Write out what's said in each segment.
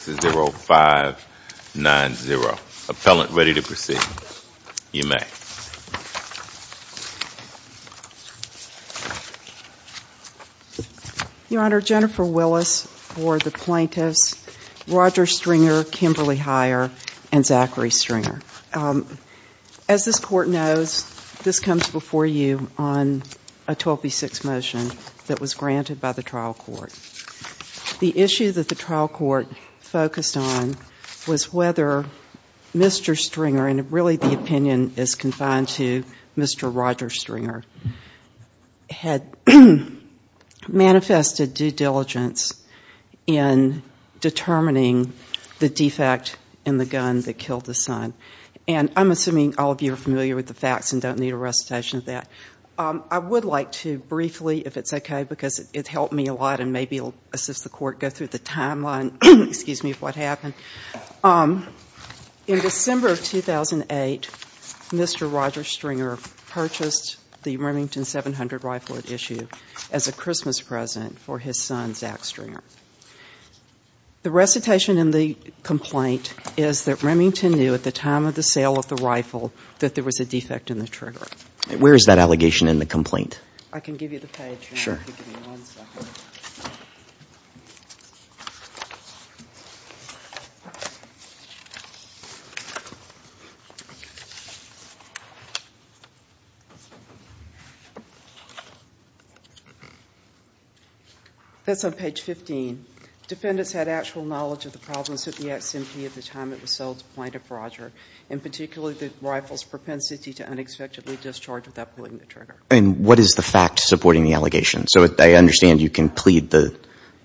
0590. Appellant ready to proceed. You may. Your Honor, Jennifer Willis for the plaintiffs, Roger Stringer, Kimberly Heyer, and Zachary Stringer. As this Court knows, this comes before you on a 12B6 motion that was granted by the trial court. The issue that the trial court focused on was whether Mr. Stringer, and really the opinion is confined to Mr. Roger Stringer, had manifested due diligence in determining the defect in the gun that killed his son. And I'm assuming all of you are familiar with the facts and don't need a recitation of that. I would like to briefly, if it's okay, because it helped me a lot and maybe it will assist the Court go through the timeline, excuse me, of what happened. In December of 2008, Mr. Roger Stringer purchased the Remington 700 rifle at issue as a Christmas present for his son, Zach Stringer. The recitation in the complaint is that Remington knew at the time of the sale of the rifle that there was a defect in the trigger. Where is that allegation in the complaint? I can give you the page. That's on page 15. Defendants had actual knowledge of the problems at the S&P at the time it was sold to plaintiff Roger, and particularly the rifle's propensity to unexpectedly discharge without pulling the trigger. What is the fact supporting the allegation? I understand you can plead the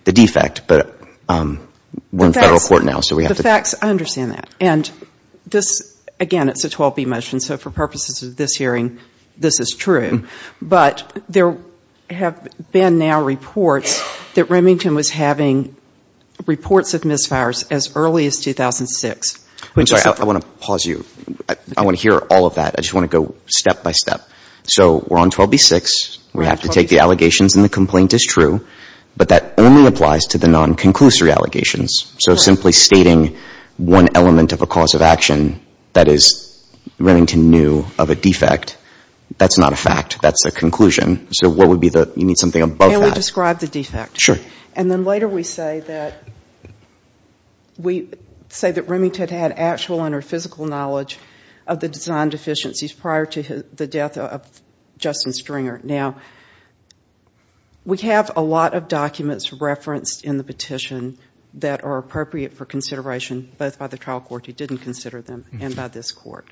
defect, but we're in federal court now, so we have to... The facts, I understand that. And again, it's a 12B motion, so for purposes of this hearing, this is true. But there have been now reports that Remington was having reports of misfires as early as 2006, which is... I'm sorry, I want to pause you. I want to hear all of that. I just want to go step by step. So we're on 12B-6. We have to take the allegations, and the complaint is true, but that only applies to the non-conclusory allegations. So simply stating one element of a cause of action, that is, Remington knew of a defect, that's not a fact. That's a conclusion. So what would be the... You need something above that. Can we describe the defect? Sure. And then later we say that Remington had actual and or physical knowledge of the design deficiencies prior to the death of Justin Stringer. Now, we have a lot of documents referenced in the petition that are appropriate for consideration, both by the trial court who didn't consider them and by this court.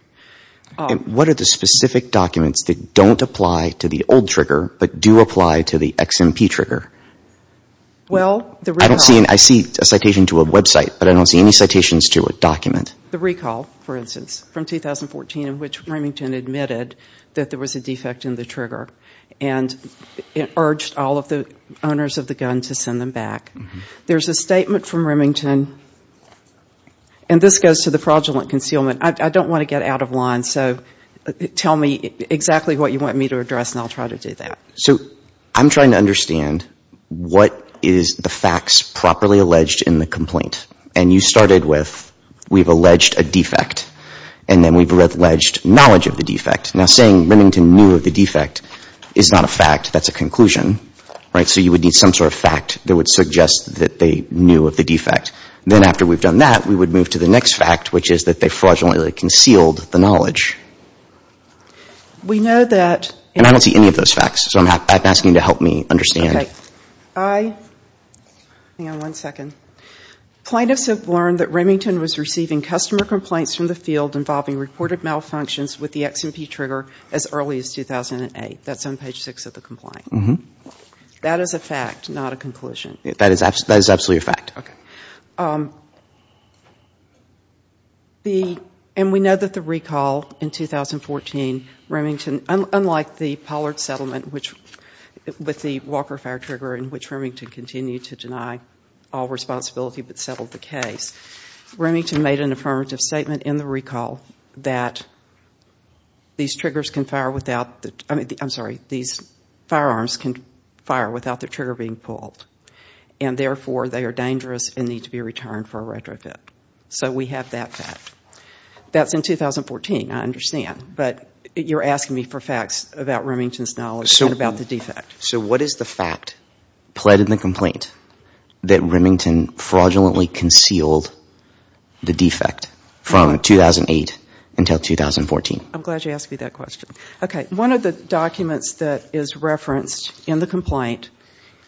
What are the specific documents that don't apply to the old trigger, but do apply to the XMP trigger? Well, the recall... I see a citation to a website, but I don't see any citations to a document. The recall, for instance, from 2014 in which Remington admitted that there was a defect in the trigger and urged all of the owners of the gun to send them back. There's a statement from Remington, and this goes to the fraudulent concealment. I don't want to get out of line, so tell me exactly what you want me to address and I'll try to do that. So I'm trying to understand what is the facts properly alleged in the complaint. And you have alleged a defect, and then we've alleged knowledge of the defect. Now, saying Remington knew of the defect is not a fact. That's a conclusion, right? So you would need some sort of fact that would suggest that they knew of the defect. Then after we've done that, we would move to the next fact, which is that they fraudulently concealed the knowledge. We know that... And I don't see any of those facts, so I'm asking you to help me understand. Okay. Hang on one second. Plaintiffs have learned that Remington was receiving customer complaints from the field involving reported malfunctions with the XMP trigger as early as 2008. That's on page 6 of the complaint. That is a fact, not a conclusion. That is absolutely a fact. Okay. And we know that the recall in 2014, Remington, unlike the Pollard settlement with the Walker fire trigger in which Remington continued to deny all responsibility but settled the case, Remington made an affirmative statement in the recall that these triggers can fire without the... I'm sorry, these firearms can fire without the trigger being pulled. And therefore, they are dangerous and need to be returned for a retrofit. So we have that fact. That's in 2014, I understand. But you're asking me for facts about Remington's knowledge and about the defect. So what is the fact pled in the complaint that Remington fraudulently concealed the defect from 2008 until 2014? I'm glad you asked me that question. Okay. One of the documents that is referenced in the complaint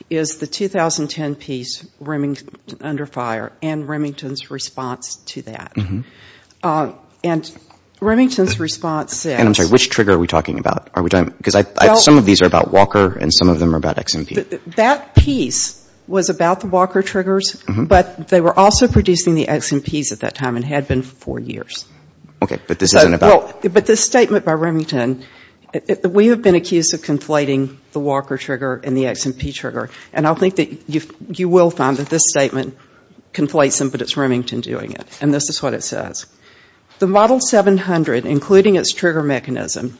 is the 2010 piece, Remington under fire, and Remington's response to that. And Remington's response says... And I'm sorry, which trigger are we talking about? Are we talking... Because some of these are about Walker and some of them are about XMP. That piece was about the Walker triggers, but they were also producing the XMPs at that time and had been for four years. Okay. But this isn't about... But this statement by Remington, we have been accused of conflating the Walker trigger and the XMP trigger. And I think that you will find that this statement conflates them, but it's Remington doing it. And this is what it says. The Model 700, including its trigger mechanism,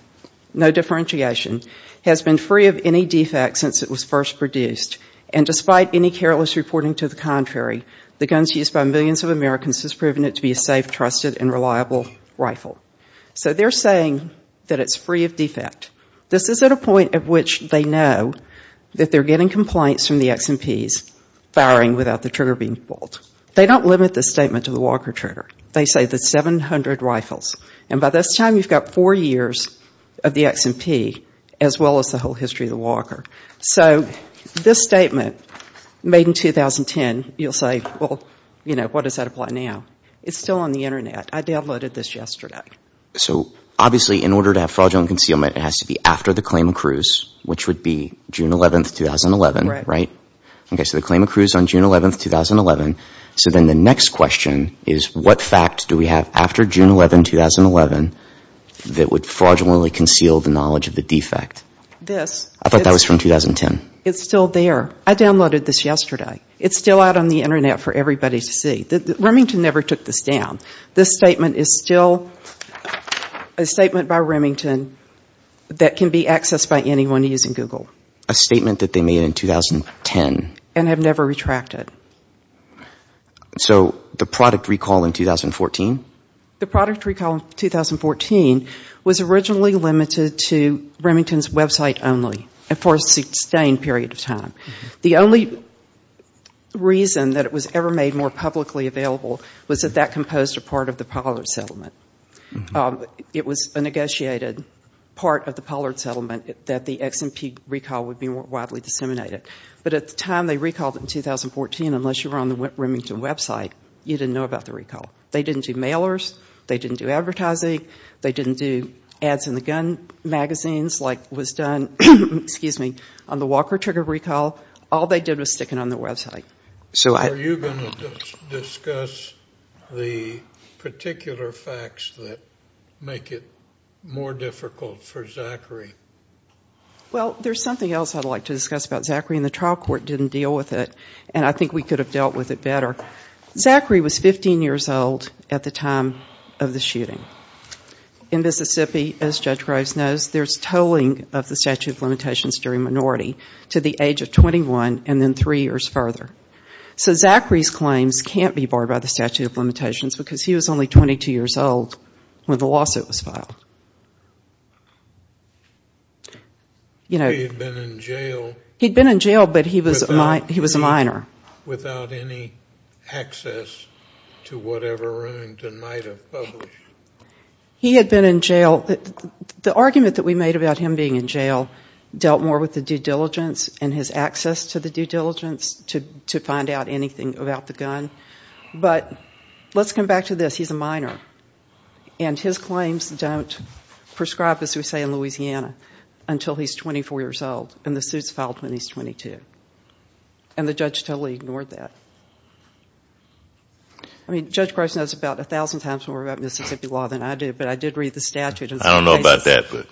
no differentiation, has been free of any defects since it was first produced. And despite any careless reporting to the contrary, the guns used by millions of Americans has proven it to be a safe, trusted, and reliable rifle. So they're saying that it's free of defect. This is at a point at which they know that they're getting complaints from the XMPs firing without the trigger being pulled. They don't limit the statement to the Walker trigger. They say the 700 rifles. And by this time, you've got four years of the XMP, as well as the whole history of the Walker. So this statement made in 2010, you'll say, well, you know, what does that apply now? It's still on the internet. I downloaded this yesterday. So obviously, in order to have fraudulent concealment, it has to be after the claim accrues, which would be June 11th, 2011, right? Right. Okay, so the claim accrues on June 11th, 2011. So then the next question is, what fact do we have after June 11th, 2011, that would fraudulently conceal the knowledge of the defect? This. I thought that was from 2010. It's still there. I downloaded this yesterday. It's still out on the internet for everybody to see. Remington never took this down. This statement is still a statement by Remington that can be accessed by anyone using Google. A statement that they made in 2010. And have never retracted. So the product recall in 2014? The product recall in 2014 was originally limited to Remington's website only, and for a sustained period of time. The only reason that it was ever made more publicly available was that that composed a part of the Pollard settlement. It was a negotiated part of the settlement, and the recall would be widely disseminated. But at the time they recalled it in 2014, unless you were on the Remington website, you didn't know about the recall. They didn't do mailers. They didn't do advertising. They didn't do ads in the gun magazines like was done on the Walker trigger recall. All they did was stick it on their website. So are you going to discuss the particular facts that make it more difficult for Zachary? Well, there's something else I'd like to discuss about Zachary, and the trial court didn't deal with it, and I think we could have dealt with it better. Zachary was 15 years old at the time of the shooting. In Mississippi, as Judge Graves knows, there's tolling of the statute of limitations during minority to the age of 21, and then three years further. So Zachary's claims can't be barred by the statute of limitations because he was only He had been in jail. He'd been in jail, but he was a minor. Without any access to whatever Remington might have published. He had been in jail. The argument that we made about him being in jail dealt more with the due diligence and his access to the due diligence to find out anything about the gun. But let's come back to this. He's a minor, and his claims don't prescribe, as we say in Louisiana, until he's 24 years old, and the suit's filed when he's 22. And the judge totally ignored that. I mean, Judge Graves knows about a thousand times more about Mississippi law than I do, but I did read the statute. I don't know about that, but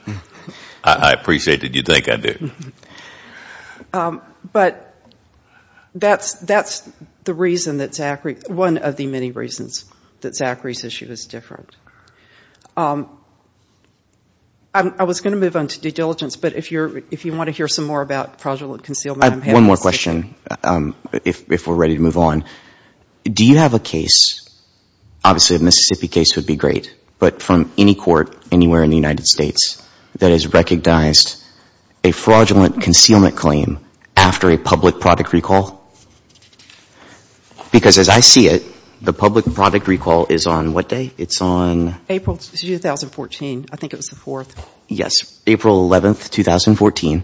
I appreciate that you think I did. But that's the reason that Zachary, one of the many reasons that Zachary's issue is different. I was going to move on to due diligence, but if you want to hear some more about fraudulent concealment, I'm happy to. I have one more question, if we're ready to move on. Do you have a case, obviously a Mississippi case would be great, but from any court anywhere in the United States, that has recognized a fraudulent concealment claim after a public product recall? Because as I see it, the public product recall is on what day? It's on... April 2014. I think it was the 4th. Yes. April 11, 2014.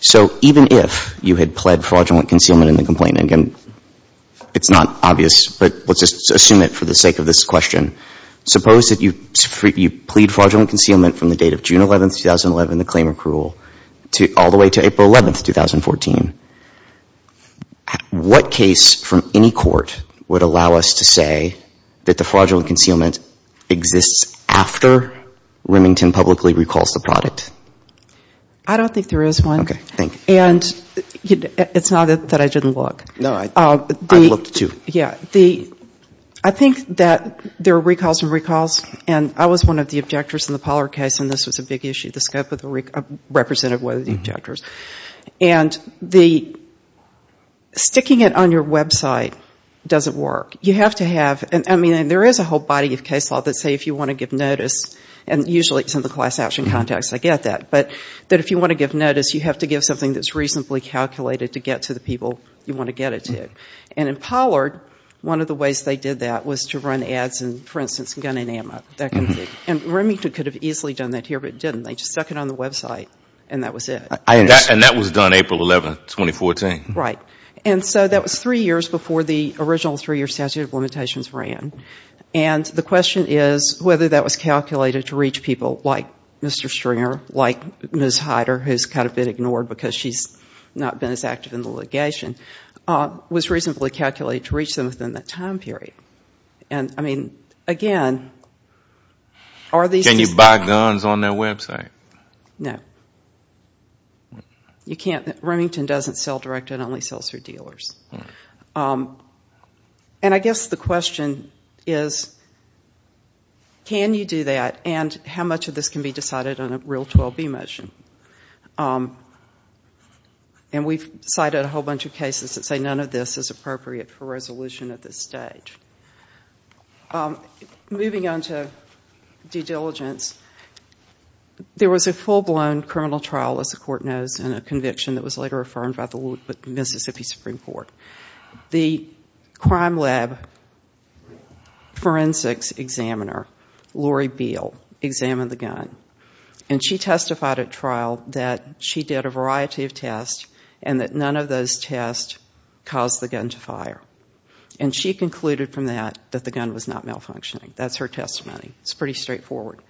So even if you had pled fraudulent concealment in the complaint, and again, it's not obvious, but let's just assume it for the sake of this question. Suppose that you plead fraudulent concealment from the date of June 11, 2011, the claim on April 11, 2014. What case from any court would allow us to say that the fraudulent concealment exists after Remington publicly recalls the product? I don't think there is one. Okay. Thank you. And it's not that I didn't look. No, I looked too. Yeah. I think that there are recalls and recalls, and I was one of the objectors in the Pollard case, and this was a big issue, the scope of the representative, one of the objectors. And the sticking it on your website doesn't work. You have to have, I mean, there is a whole body of case law that say if you want to give notice, and usually it's in the class action context, I get that, but that if you want to give notice, you have to give something that's reasonably calculated to get to the people you want to get it to. And in Pollard, one of the ways they did that was to run ads in, for instance, gun and ammo. And Remington could have easily done that here, but it didn't. They just stuck it on the website, and that was it. And that was done April 11, 2014. Right. And so that was three years before the original three-year statute of limitations ran. And the question is whether that was calculated to reach people like Mr. Stringer, like Ms. Heider, who's kind of been ignored because she's not been as active in the litigation, was reasonably calculated to reach them within that time period. And, I mean, again, are these... Can you buy guns on their website? You can't. Remington doesn't sell direct, it only sells through dealers. And I guess the question is, can you do that, and how much of this can be decided on a real 12B motion? And we've cited a whole bunch of cases that say none of this is appropriate for resolution at this stage. Moving on to due diligence, there was a full-blown criminal trial, as the Court knows, and a conviction that was later affirmed by the Mississippi Supreme Court. The crime lab forensics examiner, Lori Beal, examined the gun. And she testified at trial that she did a variety of tests and that none of those tests caused the gun to fire. And she concluded from that that the gun was not malfunctioning. That's her testimony. It's pretty straightforward.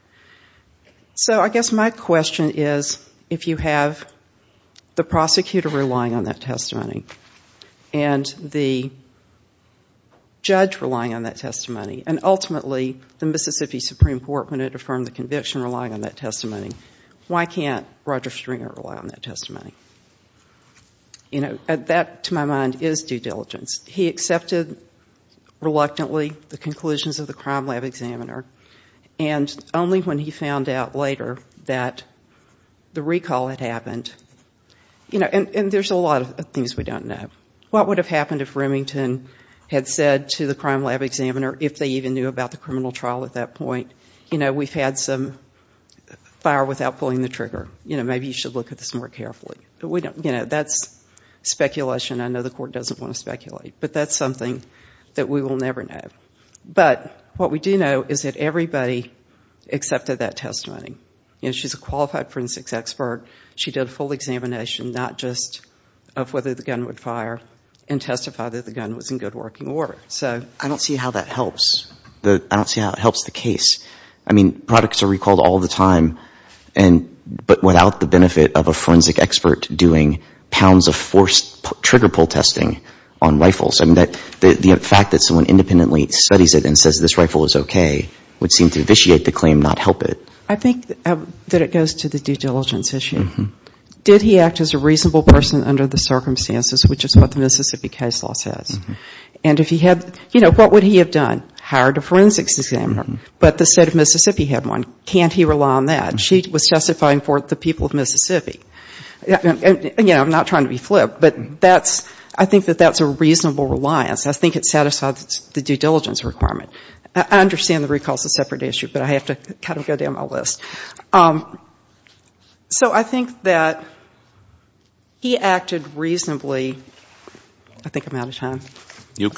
So I guess my question is, if you have the prosecutor relying on that testimony and the judge relying on that testimony, and ultimately the Mississippi Supreme Court, when it affirmed the conviction, relying on that testimony, why can't Roger Stringer rely on that testimony? That, to my mind, is due diligence. He accepted, reluctantly, the conclusions of the crime lab examiner, and only when he found out later that the recall had happened, and there's a lot of things we don't know. What would have happened if Remington had said to the crime lab examiner, if they even knew about the criminal trial at that point, we've had some fire without pulling the trigger. Maybe you should look at this more carefully. That's speculation. I know the Court doesn't want to speculate. But that's something that we will never know. But what we do know is that everybody accepted that testimony. She's a qualified forensics expert. She did a full examination, not just of whether the gun would fire, and testified that the gun was in good working order. So I don't see how that helps. I don't see how it helps the case. I mean, products are recalled all the time, but without the benefit of a forensic expert doing pounds of forced trigger pull testing on rifles. The fact that someone independently studies it and says this rifle is okay would seem to vitiate the claim, not help it. I think that it goes to the due diligence issue. Did he act as a reasonable person under the circumstances, which is what the Mississippi case law says? And if he had, you know, what would he have done? Hired a forensics examiner. But the state of Mississippi had one. Can't he rely on that? She was testifying for the people of Mississippi. Again, I'm not trying to be flip, but that's, I think that that's a reasonable reliance. I think it satisfies the due diligence requirement. I understand the recall is a separate issue, but I have to kind of go down my list. So I think that he acted reasonably. I think I'm out of time. You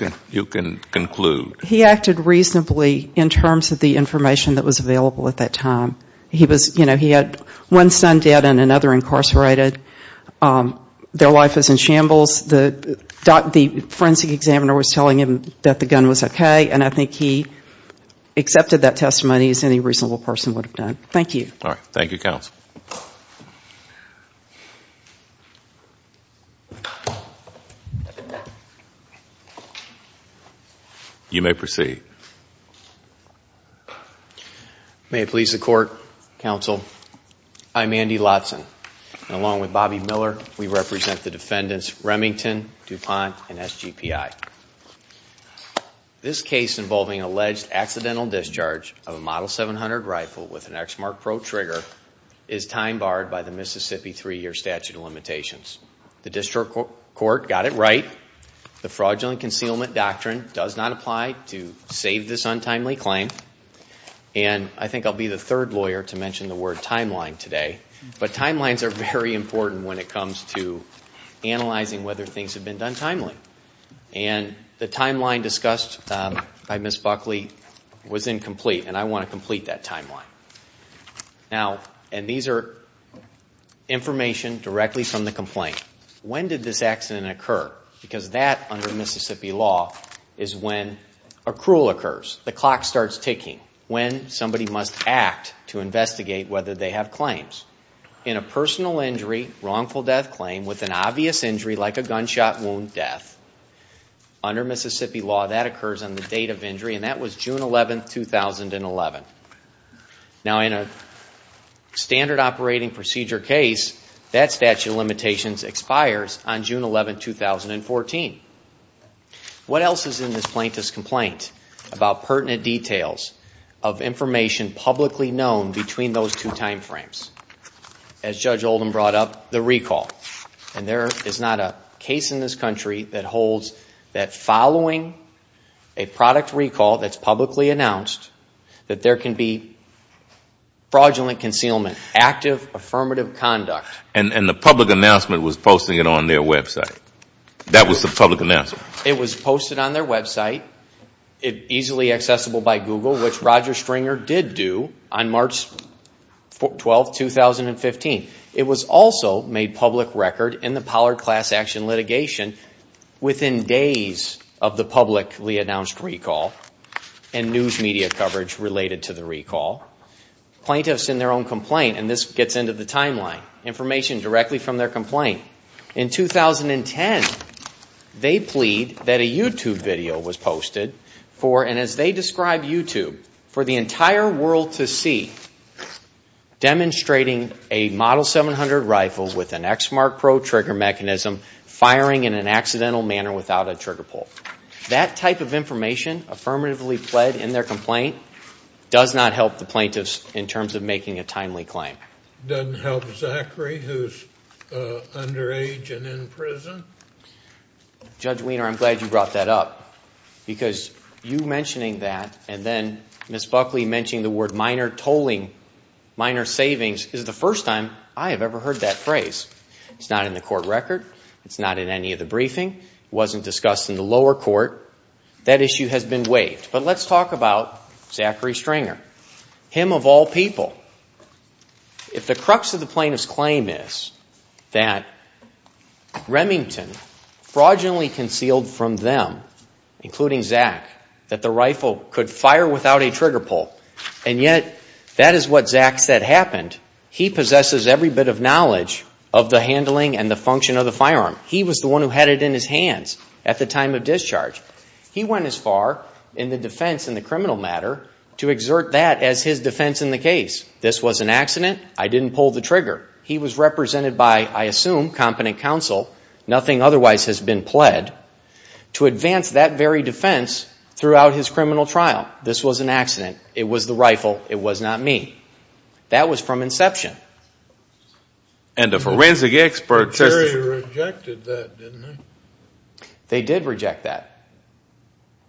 can conclude. He acted reasonably in terms of the information that was available at that time. He was, you know, he had one son dead and another incarcerated. Their life was in shambles. The forensic examiner was telling him that the gun was okay, and I think he accepted that testimony as any reasonable person would have done. Thank you. All right. Thank you, counsel. You may proceed. May it please the court, counsel, I'm Andy Lodson. And along with Bobby Miller, we represent the defendants Remington, DuPont, and SGPI. This case involving alleged accidental discharge of a Model 700 rifle with an Exmark Pro trigger is time barred by the Mississippi three-year statute of limitations. The district court got it right. The fraudulent concealment doctrine does not apply to save this untimely claim. And I think I'll be the third lawyer to mention the word timeline today. But timelines are very important when it comes to analyzing whether things have been done timely. And the timeline discussed by Ms. Buckley was incomplete, and I want to complete that timeline. Now, and these are information directly from the complaint. When did this accident occur? Because that, under Mississippi law, is when a cruel occurs. The clock starts ticking. When somebody must act to investigate whether they have claims. In a personal injury, wrongful death claim with an obvious injury like a gunshot wound death, under Mississippi law, that occurs on the date of injury, and that was June 11, 2011. Now, in a standard operating procedure case, that statute of limitations expires on June 11, 2014. What else is in this plaintiff's complaint about pertinent details of information publicly known between those two timeframes? As Judge Oldham brought up, the recall. And there is not a case in this country that holds that following a product recall that's publicly announced, that there can be fraudulent concealment, active affirmative conduct. And the public announcement was posting it on their website. That was the public announcement. It was posted on their website, easily accessible by Google, which Roger Stringer did do on March 12, 2015. It was also made public record in the Pollard Class Action litigation within days of the publicly announced recall and news media coverage related to the recall. Plaintiffs in their own complaint, and this gets into the timeline, information directly from their complaint. In 2010, they plead that a YouTube video was posted for, and as they describe YouTube, for the entire world to see demonstrating a Model 700 rifle with an Exmark Pro trigger mechanism firing in an accidental manner without a trigger pull. That type of information affirmatively pled in their complaint does not help the plaintiffs in terms of making a timely claim. It doesn't help Zachary, who's underage and in prison? Judge Weiner, I'm glad you brought that up because you mentioning that and then Ms. Buckley mentioning the word minor tolling, minor savings, is the first time I have ever heard that phrase. It's not in the court record. It's not in any of the briefing. It wasn't discussed in the lower court. That issue has been waived. But let's talk about Zachary Stringer, him of all people. If the crux of the plaintiff's claim is that Remington fraudulently concealed from them, including Zach, that the rifle could fire without a trigger pull, and yet that is what Zach said happened, he possesses every bit of knowledge of the handling and the function of the firearm. He was the one who had it in his hands at the time of discharge. He went as far in the defense in the criminal matter to exert that as his defense in the case. This was an accident. I didn't pull the trigger. He was represented by, I assume, competent counsel, nothing otherwise has been pled, to advance that very defense throughout his criminal trial. This was an accident. It was the rifle. It was not me. That was from inception. And the forensic experts. They rejected that, didn't they? They did reject that.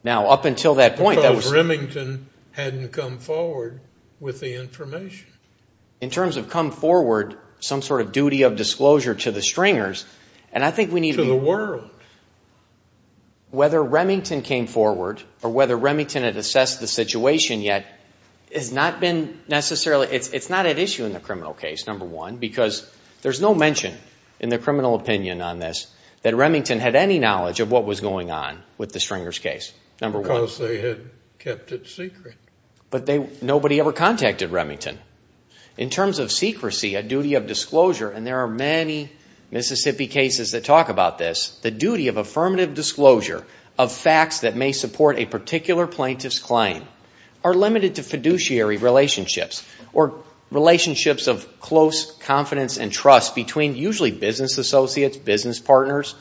Now, up until that point, that was... Because Remington hadn't come forward with the information. In terms of come forward, some sort of duty of disclosure to the Stringers, and I think we need to be... To the world. Whether Remington came forward or whether Remington had assessed the situation yet, it's not at issue in the criminal case, number one, because there's no mention in the criminal opinion on this that Remington had any knowledge of what was going on with the Stringers case, number one. Because they had kept it secret. But nobody ever contacted Remington. In terms of secrecy, a duty of disclosure, and there are many Mississippi cases that talk about this, the duty of affirmative disclosure of facts that may support a particular plaintiff's claim are limited to fiduciary relationships or relationships of close confidence and trust between usually business associates, business partners,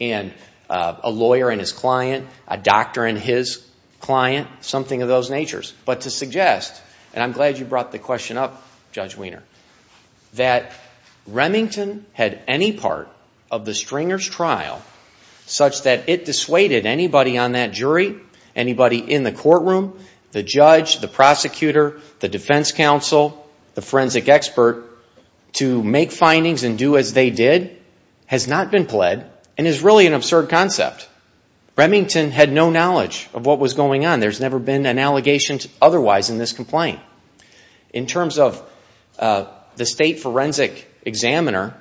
and a lawyer and his client, a doctor and his client, something of those natures. But to suggest, and I'm glad you brought the question up, Judge Wiener, that Remington had any part of the Stringers trial such that it dissuaded anybody on that jury, anybody in the courtroom, the judge, the prosecutor, the defense counsel, the forensic expert to make findings and do as they did has not been pled and is really an absurd concept. Remington had no knowledge of what was going on. There's never been an allegation otherwise in this complaint. In terms of the state forensic examiner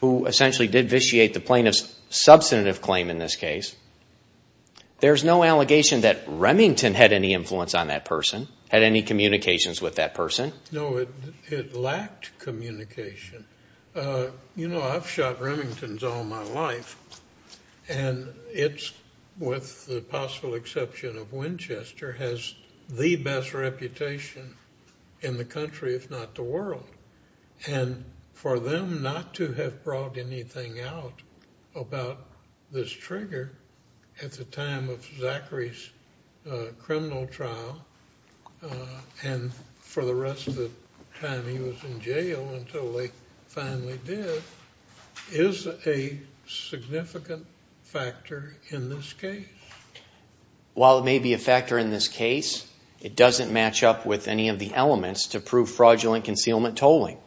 who essentially did vitiate the plaintiff's substantive claim in this case, there's no allegation that Remington had any influence on that person, had any communications with that person. No, it lacked communication. You know, I've shot Remingtons all my life, and it's, with the possible exception of Winchester, has the best reputation in the country, if not the world. And for them not to have brought anything out about this trigger at the time of Zachary's criminal trial and for the rest of the time he was in jail until they finally did is a significant factor in this case. While it may be a factor in this case, it doesn't match up with any of the elements to prove fraudulent concealment tolling.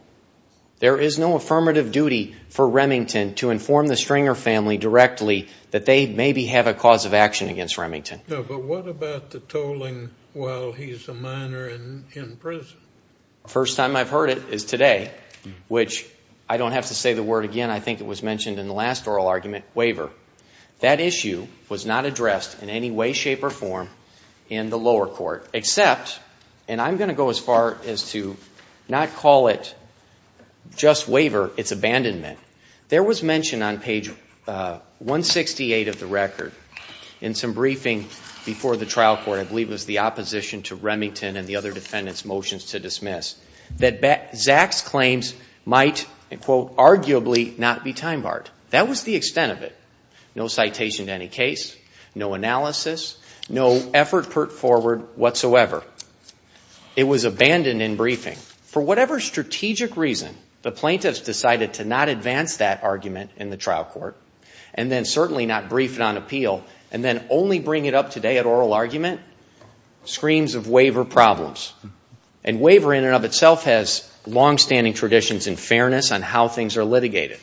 There is no affirmative duty for Remington to inform the Stringer family directly that they maybe have a cause of action against Remington. No, but what about the tolling while he's a minor in prison? First time I've heard it is today, which I don't have to say the word again. That issue was not addressed in any way, shape, or form in the lower court, except, and I'm going to go as far as to not call it just waiver, it's abandonment. There was mention on page 168 of the record in some briefing before the trial court, I believe it was the opposition to Remington and the other defendants' motions to dismiss, that Zach's claims might, quote, That was the extent of it. No citation to any case, no analysis, no effort put forward whatsoever. It was abandoned in briefing. For whatever strategic reason, the plaintiffs decided to not advance that argument in the trial court and then certainly not brief it on appeal and then only bring it up today at oral argument, screams of waiver problems. And waiver in and of itself has longstanding traditions in fairness on how things are litigated.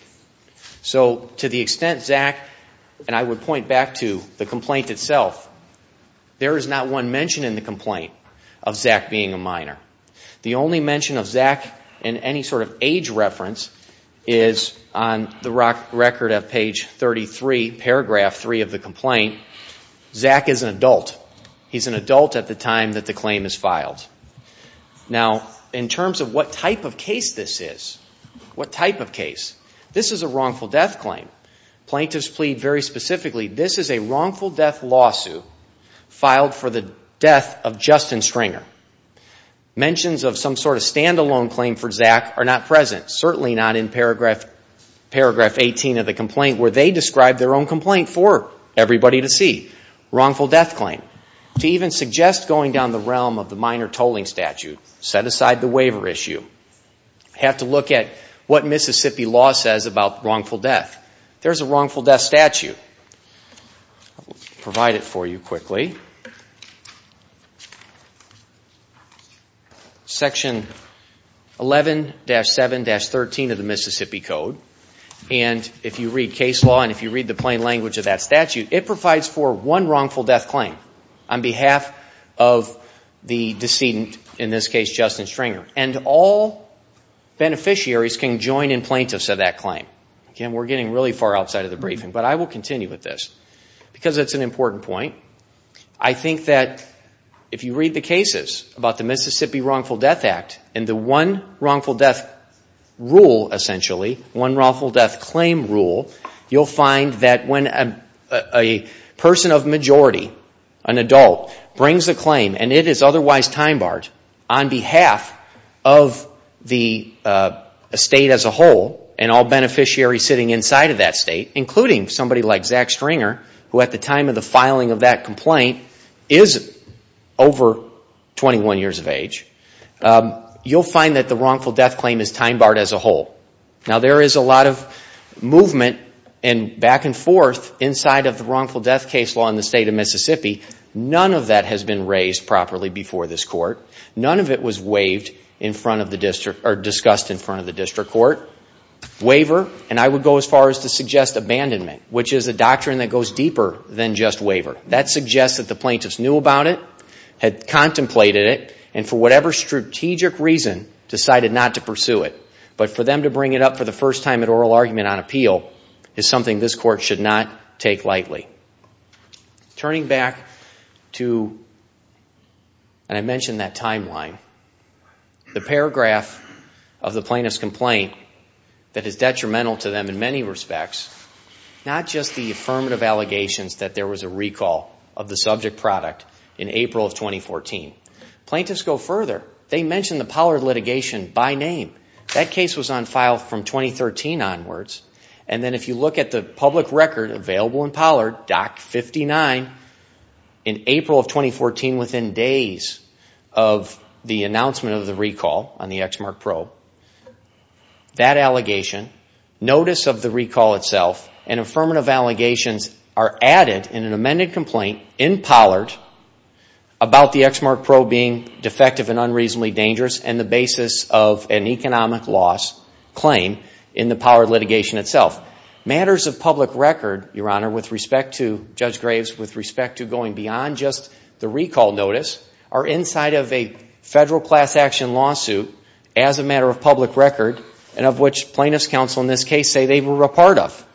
So to the extent Zach, and I would point back to the complaint itself, there is not one mention in the complaint of Zach being a minor. The only mention of Zach in any sort of age reference is on the record of page 33, paragraph 3 of the complaint. Zach is an adult. He's an adult at the time that the claim is filed. Now, in terms of what type of case this is, what type of case, this is a wrongful death claim. Plaintiffs plead very specifically, this is a wrongful death lawsuit filed for the death of Justin Stringer. Mentions of some sort of stand-alone claim for Zach are not present, certainly not in paragraph 18 of the complaint where they describe their own complaint for everybody to see. Wrongful death claim. To even suggest going down the realm of the minor tolling statute, set aside the waiver issue. Have to look at what Mississippi law says about wrongful death. There's a wrongful death statute. I'll provide it for you quickly. Section 11-7-13 of the Mississippi Code. And if you read case law and if you read the plain language of that statute, it provides for one wrongful death claim on behalf of the decedent, in this case Justin Stringer. And all beneficiaries can join in plaintiffs of that claim. We're getting really far outside of the briefing, but I will continue with this because it's an important point. I think that if you read the cases about the Mississippi Wrongful Death Act and the one wrongful death rule, essentially, one wrongful death claim rule, you'll find that when a person of majority, an adult, brings a claim and it is otherwise time barred on behalf of the state as a whole and all beneficiaries sitting inside of that state, including somebody like Zach Stringer, who at the time of the filing of that complaint is over 21 years of age, you'll find that the wrongful death claim is time barred as a whole. Now, there is a lot of movement and back and forth inside of the wrongful death case law in the state of Mississippi. None of that has been raised properly before this court. None of it was waived in front of the district or discussed in front of the district court. Waiver, and I would go as far as to suggest abandonment, which is a doctrine that goes deeper than just waiver. That suggests that the plaintiffs knew about it, had contemplated it, and for whatever strategic reason decided not to pursue it. But for them to bring it up for the first time at oral argument on appeal is something this court should not take lightly. Turning back to, and I mentioned that timeline, the paragraph of the plaintiff's complaint that is detrimental to them in many respects, not just the affirmative allegations that there was a recall of the subject product in April of 2014. Plaintiffs go further. They mention the Pollard litigation by name. That case was on file from 2013 onwards. And then if you look at the public record available in Pollard, Doc 59, in April of 2014, within days of the announcement of the recall on the Exmark Probe, that allegation, notice of the recall itself, and affirmative allegations are added in an amended complaint in Pollard about the Exmark Probe being defective and unreasonably dangerous and the basis of an economic loss claim in the Pollard litigation itself. Matters of public record, Your Honor, with respect to Judge Graves, with respect to going beyond just the recall notice, are inside of a federal class action lawsuit as a matter of public record, and of which plaintiffs' counsel in this case say they were a part of.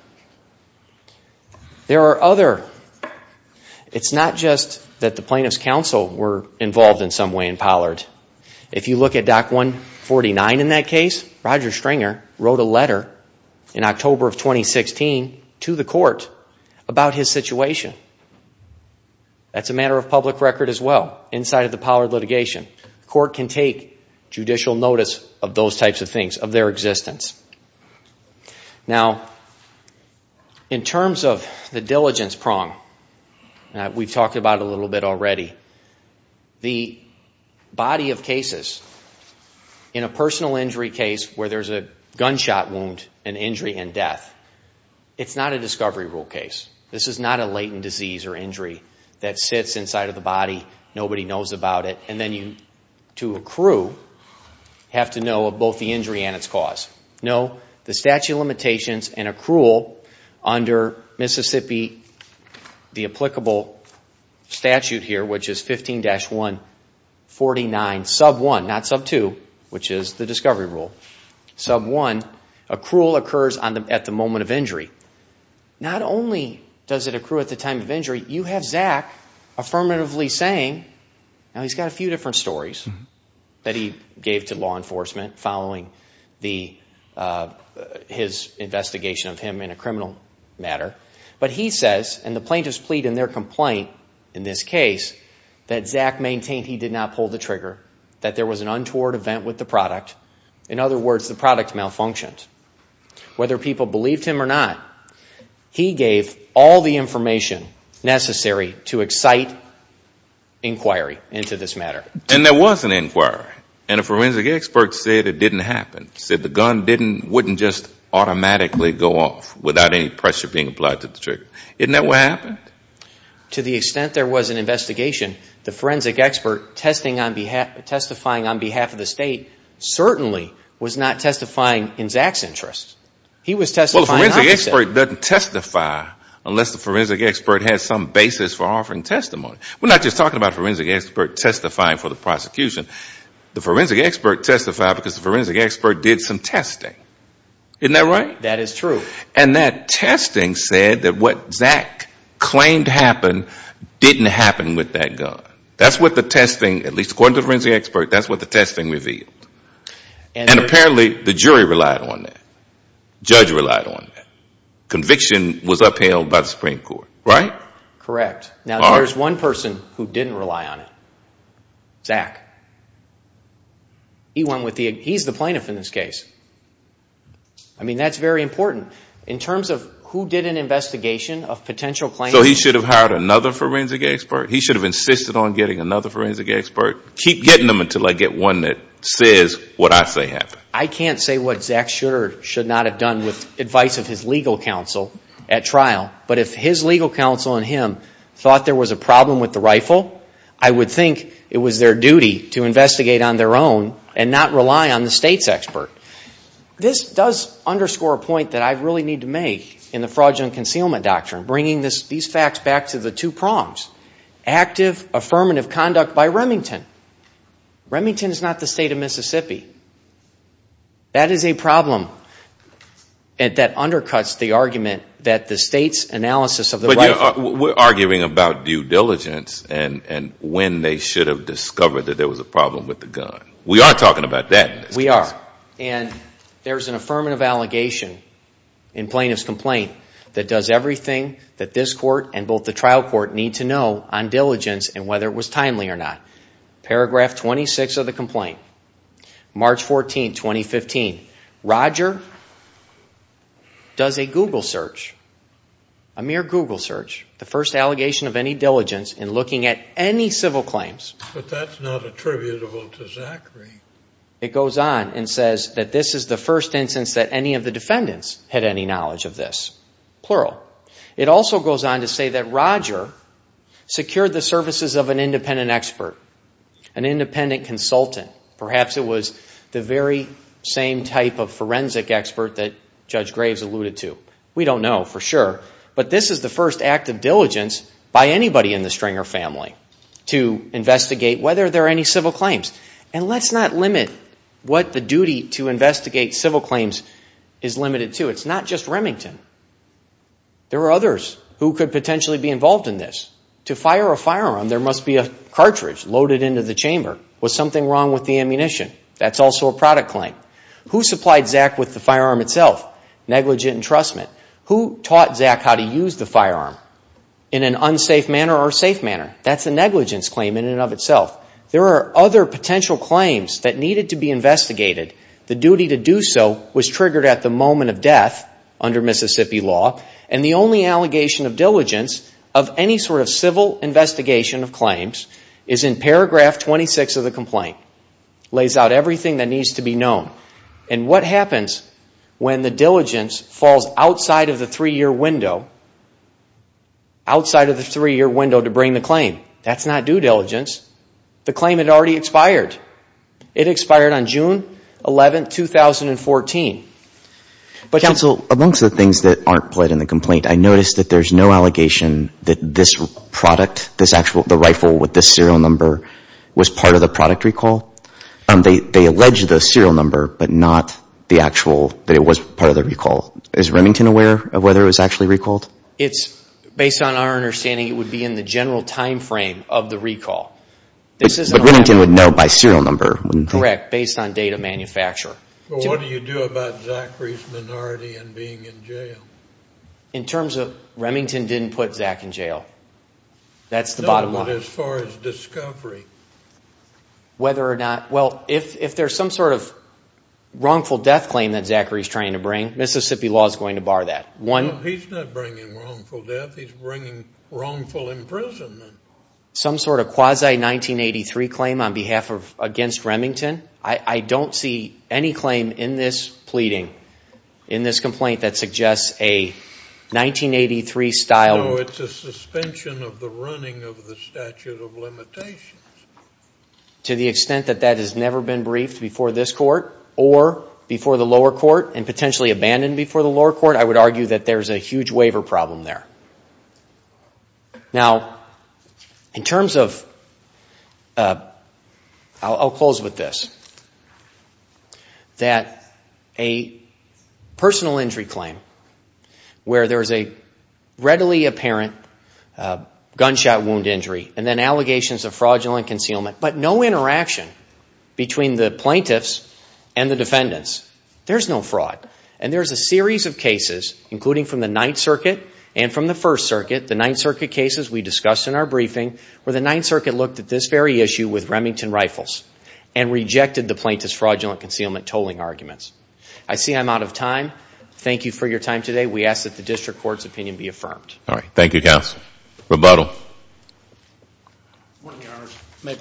There are other. It's not just that the plaintiffs' counsel were involved in some way in Pollard. If you look at Doc 149 in that case, Roger Stringer wrote a letter in October of 2016 to the court about his situation. That's a matter of public record as well, inside of the Pollard litigation. The court can take judicial notice of those types of things, of their existence. Now, in terms of the diligence prong that we've talked about a little bit already, the body of cases, in a personal injury case where there's a gunshot wound, an injury, and death, it's not a discovery rule case. This is not a latent disease or injury that sits inside of the body, nobody knows about it, and then you, to accrue, have to know of both the injury and its cause. No, the statute of limitations and accrual under Mississippi, the applicable statute here, which is 15-149 sub 1, not sub 2, which is the discovery rule. Sub 1, accrual occurs at the moment of injury. Not only does it accrue at the time of injury, you have Zach affirmatively saying, now he's got a few different stories that he gave to law enforcement following his investigation of him in a criminal matter, but he says, and the plaintiffs plead in their complaint in this case, that Zach maintained he did not pull the trigger, that there was an untoward event with the product. In other words, the product malfunctioned. Whether people believed him or not, he gave all the information necessary to excite inquiry into this matter. And there was an inquiry, and a forensic expert said it didn't happen, said the gun wouldn't just automatically go off without any pressure being applied to the trigger. Isn't that what happened? To the extent there was an investigation, the forensic expert testifying on behalf of the State certainly was not testifying in Zach's interest. Well, the forensic expert doesn't testify unless the forensic expert has some basis for offering testimony. We're not just talking about a forensic expert testifying for the prosecution. The forensic expert testified because the forensic expert did some testing. Isn't that right? That is true. And that testing said that what Zach claimed happened didn't happen with that gun. That's what the testing, at least according to the forensic expert, that's what the testing revealed. And apparently the jury relied on that. Judge relied on that. Conviction was upheld by the Supreme Court, right? Correct. Now, there's one person who didn't rely on it, Zach. He's the plaintiff in this case. I mean, that's very important. In terms of who did an investigation of potential claimants. So he should have hired another forensic expert? He should have insisted on getting another forensic expert? Keep getting them until I get one that says what I say happened. I can't say what Zach should or should not have done with advice of his legal counsel at trial. But if his legal counsel and him thought there was a problem with the rifle, I would think it was their duty to investigate on their own and not rely on the State's expert. This does underscore a point that I really need to make in the Fraudulent Concealment Doctrine, bringing these facts back to the two prongs. Active, affirmative conduct by Remington. Remington is not the State of Mississippi. That is a problem that undercuts the argument that the State's analysis of the rifle. But we're arguing about due diligence and when they should have discovered that there was a problem with the gun. We are talking about that. We are. And there's an affirmative allegation in plaintiff's complaint that does everything that this court and both the trial court need to know on diligence and whether it was timely or not. Paragraph 26 of the complaint, March 14, 2015. Roger does a Google search, a mere Google search. The first allegation of any diligence in looking at any civil claims. But that's not attributable to Zachary. It goes on and says that this is the first instance that any of the defendants had any knowledge of this, plural. It also goes on to say that Roger secured the services of an independent expert, an independent consultant. Perhaps it was the very same type of forensic expert that Judge Graves alluded to. We don't know for sure. But this is the first act of diligence by anybody in the Stringer family to investigate whether there are any civil claims. And let's not limit what the duty to investigate civil claims is limited to. It's not just Remington. There are others who could potentially be involved in this. To fire a firearm, there must be a cartridge loaded into the chamber. Was something wrong with the ammunition? That's also a product claim. Who supplied Zach with the firearm itself? Negligent entrustment. Who taught Zach how to use the firearm in an unsafe manner or safe manner? That's a negligence claim in and of itself. There are other potential claims that needed to be investigated. The duty to do so was triggered at the moment of death under Mississippi law. And the only allegation of diligence of any sort of civil investigation of claims is in paragraph 26 of the complaint. It lays out everything that needs to be known. And what happens when the diligence falls outside of the three-year window to bring the claim? That's not due diligence. The claim had already expired. It expired on June 11, 2014. Counsel, amongst the things that aren't pled in the complaint, I noticed that there's no allegation that this product, this actual, the rifle with this serial number was part of the product recall. They allege the serial number, but not the actual, that it was part of the recall. Is Remington aware of whether it was actually recalled? It's, based on our understanding, it would be in the general time frame of the recall. But Remington would know by serial number. Correct, based on date of manufacture. But what do you do about Zachary's minority in being in jail? In terms of, Remington didn't put Zach in jail. That's the bottom line. Not as far as discovery. Well, if there's some sort of wrongful death claim that Zachary's trying to bring, Mississippi law is going to bar that. No, he's not bringing wrongful death. He's bringing wrongful imprisonment. Some sort of quasi-1983 claim on behalf of, against Remington? I don't see any claim in this pleading, in this complaint, that suggests a 1983-style... No, it's a suspension of the running of the statute of limitations. To the extent that that has never been briefed before this court, or before the lower court, and potentially abandoned before the lower court, I would argue that there's a huge waiver problem there. Now, in terms of... I'll close with this. That a personal injury claim, where there's a readily apparent gunshot wound injury, and then allegations of fraudulent concealment, but no interaction between the plaintiffs and the defendants. There's no fraud. And there's a series of cases, including from the Ninth Circuit and from the First Circuit, the Ninth Circuit cases we discussed in our briefing, where the Ninth Circuit looked at this very issue with Remington Rifles, and rejected the plaintiff's fraudulent concealment tolling arguments. I see I'm out of time. Thank you for your time today. We ask that the district court's opinion be affirmed. Thank you, counsel. Rebuttal. Let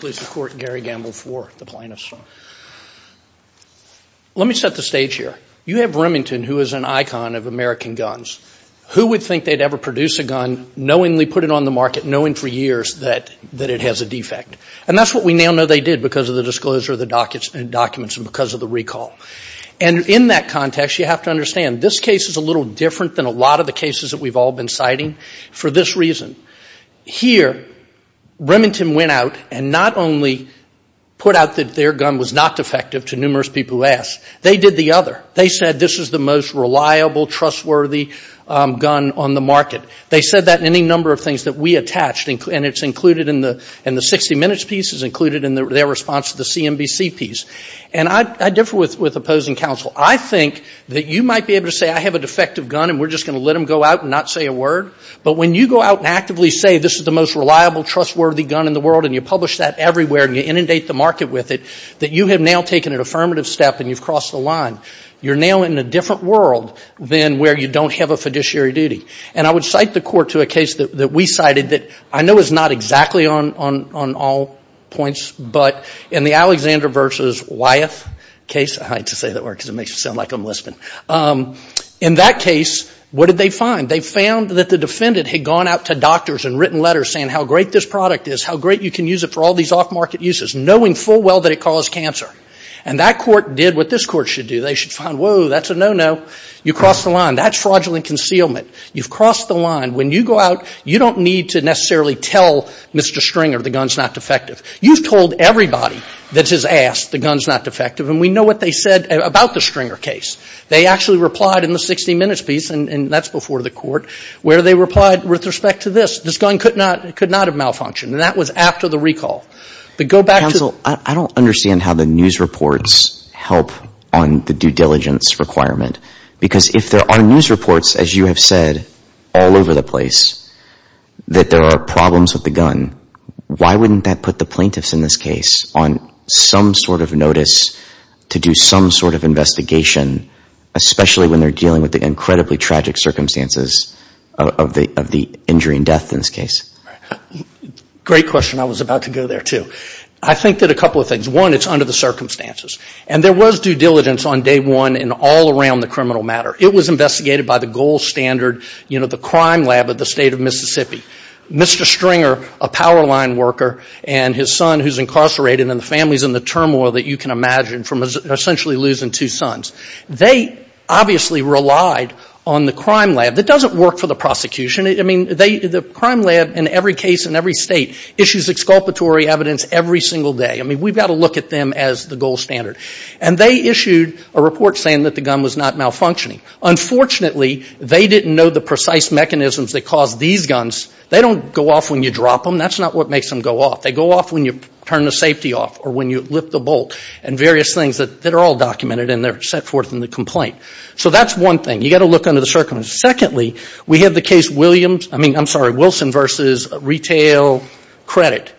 me set the stage here. You have Remington, who is an icon of American guns. Who would think they'd ever produce a gun, knowingly put it on the market, knowing for years that it has a defect? And that's what we now know they did, because of the disclosure of the documents and because of the recall. And in that context, you have to understand, this case is a little different than a lot of the cases that we've all been citing, for this reason. Here, Remington went out and not only put out that their gun was not defective to numerous people who asked. They did the other. They said this is the most reliable, trustworthy gun on the market. They said that in any number of things that we attached, and it's included in the 60 Minutes piece. It's included in their response to the CNBC piece. And I differ with opposing counsel. I think that you might be able to say, I have a defective gun, and we're just going to let them go out and not say a word. But when you go out and actively say, this is the most reliable, trustworthy gun in the world, and you publish that everywhere and you inundate the market with it, that you have now taken an affirmative step and you've crossed the line. You're now in a different world than where you don't have a fiduciary duty. And I would cite the court to a case that we cited that I know is not exactly on all points, but in the Alexander v. Wyeth case, I hate to say that word because it makes it sound like I'm lisping. In that case, what did they find? They found that the defendant had gone out to doctors and written letters saying how great this product is, how great you can use it for all these off-market uses, knowing full well that it caused cancer. And that court did what this court should do. They should find, whoa, that's a no-no. You crossed the line. That's fraudulent concealment. You've crossed the line. When you go out, you don't need to necessarily tell Mr. Stringer the gun's not defective. You've told everybody that has asked the gun's not defective. And we know what they said about the Stringer case. They actually replied in the 60 Minutes piece, and that's before the court, where they replied with respect to this. This gun could not have malfunctioned. And that was after the recall. But go back to the ---- help on the due diligence requirement. Because if there are news reports, as you have said, all over the place, that there are problems with the gun, why wouldn't that put the plaintiffs in this case on some sort of notice to do some sort of investigation, especially when they're dealing with the incredibly tragic circumstances of the injury and death in this case? Great question. I was about to go there too. I think that a couple of things. One, it's under the circumstances. And there was due diligence on day one in all around the criminal matter. It was investigated by the gold standard, you know, the crime lab of the state of Mississippi. Mr. Stringer, a power line worker, and his son who's incarcerated, and the families in the turmoil that you can imagine from essentially losing two sons, they obviously relied on the crime lab. That doesn't work for the prosecution. I mean, the crime lab in every case in every state issues exculpatory evidence every single day. I mean, we've got to look at them as the gold standard. And they issued a report saying that the gun was not malfunctioning. Unfortunately, they didn't know the precise mechanisms that caused these guns. They don't go off when you drop them. That's not what makes them go off. They go off when you turn the safety off or when you lift the bolt and various things that are all documented and they're set forth in the complaint. So that's one thing. You've got to look under the circumstances. Secondly, we have the case Wilson versus retail credit.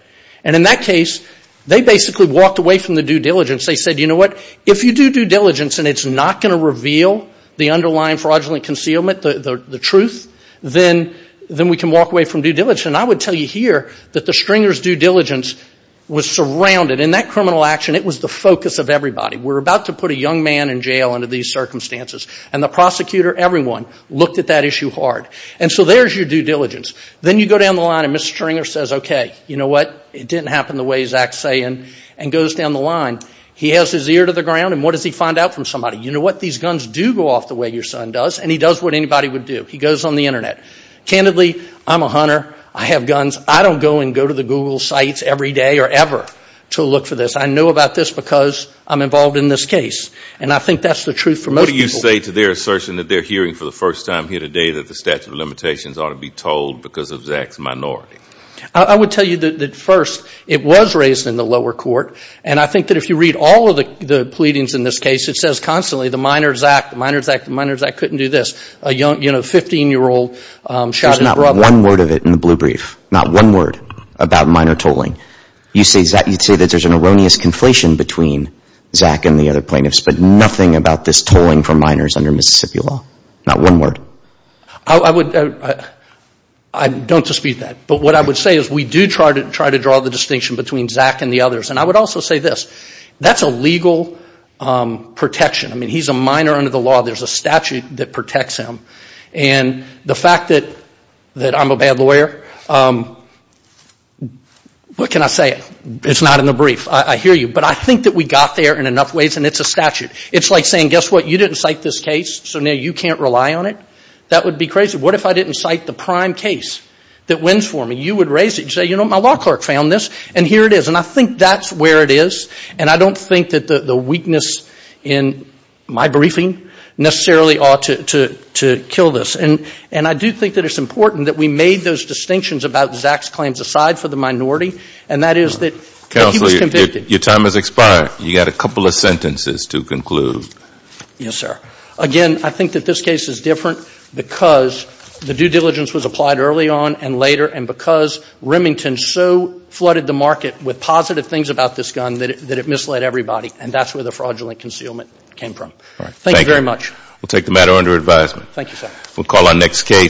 And in that case, they basically walked away from the due diligence. They said, you know what? If you do due diligence and it's not going to reveal the underlying fraudulent concealment, the truth, then we can walk away from due diligence. And I would tell you here that the Stringer's due diligence was surrounded. In that criminal action, it was the focus of everybody. We're about to put a young man in jail under these circumstances. And the prosecutor, everyone, looked at that issue hard. And so there's your due diligence. Then you go down the line and Mr. Stringer says, okay, you know what? It didn't happen the way Zach's saying, and goes down the line. He has his ear to the ground, and what does he find out from somebody? You know what? These guns do go off the way your son does, and he does what anybody would do. He goes on the Internet. Candidly, I'm a hunter. I have guns. I don't go and go to the Google sites every day or ever to look for this. I know about this because I'm involved in this case. And I think that's the truth for most people. What do you say to their assertion that they're hearing for the first time here today that the statute of limitations ought to be told because of Zach's minority? I would tell you that, first, it was raised in the lower court, and I think that if you read all of the pleadings in this case, it says constantly, the minor Zach, the minor Zach, the minor Zach couldn't do this. A 15-year-old shot his brother. There's not one word of it in the blue brief, not one word about minor tolling. You'd say that there's an erroneous conflation between Zach and the other plaintiffs, but nothing about this tolling for minors under Mississippi law. Not one word. I don't dispute that. But what I would say is we do try to draw the distinction between Zach and the others. And I would also say this. That's a legal protection. I mean, he's a minor under the law. There's a statute that protects him. And the fact that I'm a bad lawyer, what can I say? It's not in the brief. I hear you. But I think that we got there in enough ways, and it's a statute. It's like saying, guess what? You didn't cite this case, so now you can't rely on it. That would be crazy. What if I didn't cite the prime case that wins for me? You would raise it. You'd say, you know, my law clerk found this, and here it is. And I think that's where it is. And I don't think that the weakness in my briefing necessarily ought to kill this. And I do think that it's important that we made those distinctions about Zach's claims aside for the minority, and that is that he was convicted. Your time has expired. You've got a couple of sentences to conclude. Yes, sir. Again, I think that this case is different because the due diligence was applied early on and later, and because Remington so flooded the market with positive things about this gun that it misled everybody, and that's where the fraudulent concealment came from. Thank you very much. We'll take the matter under advisement. Thank you, sir. We'll call our next case.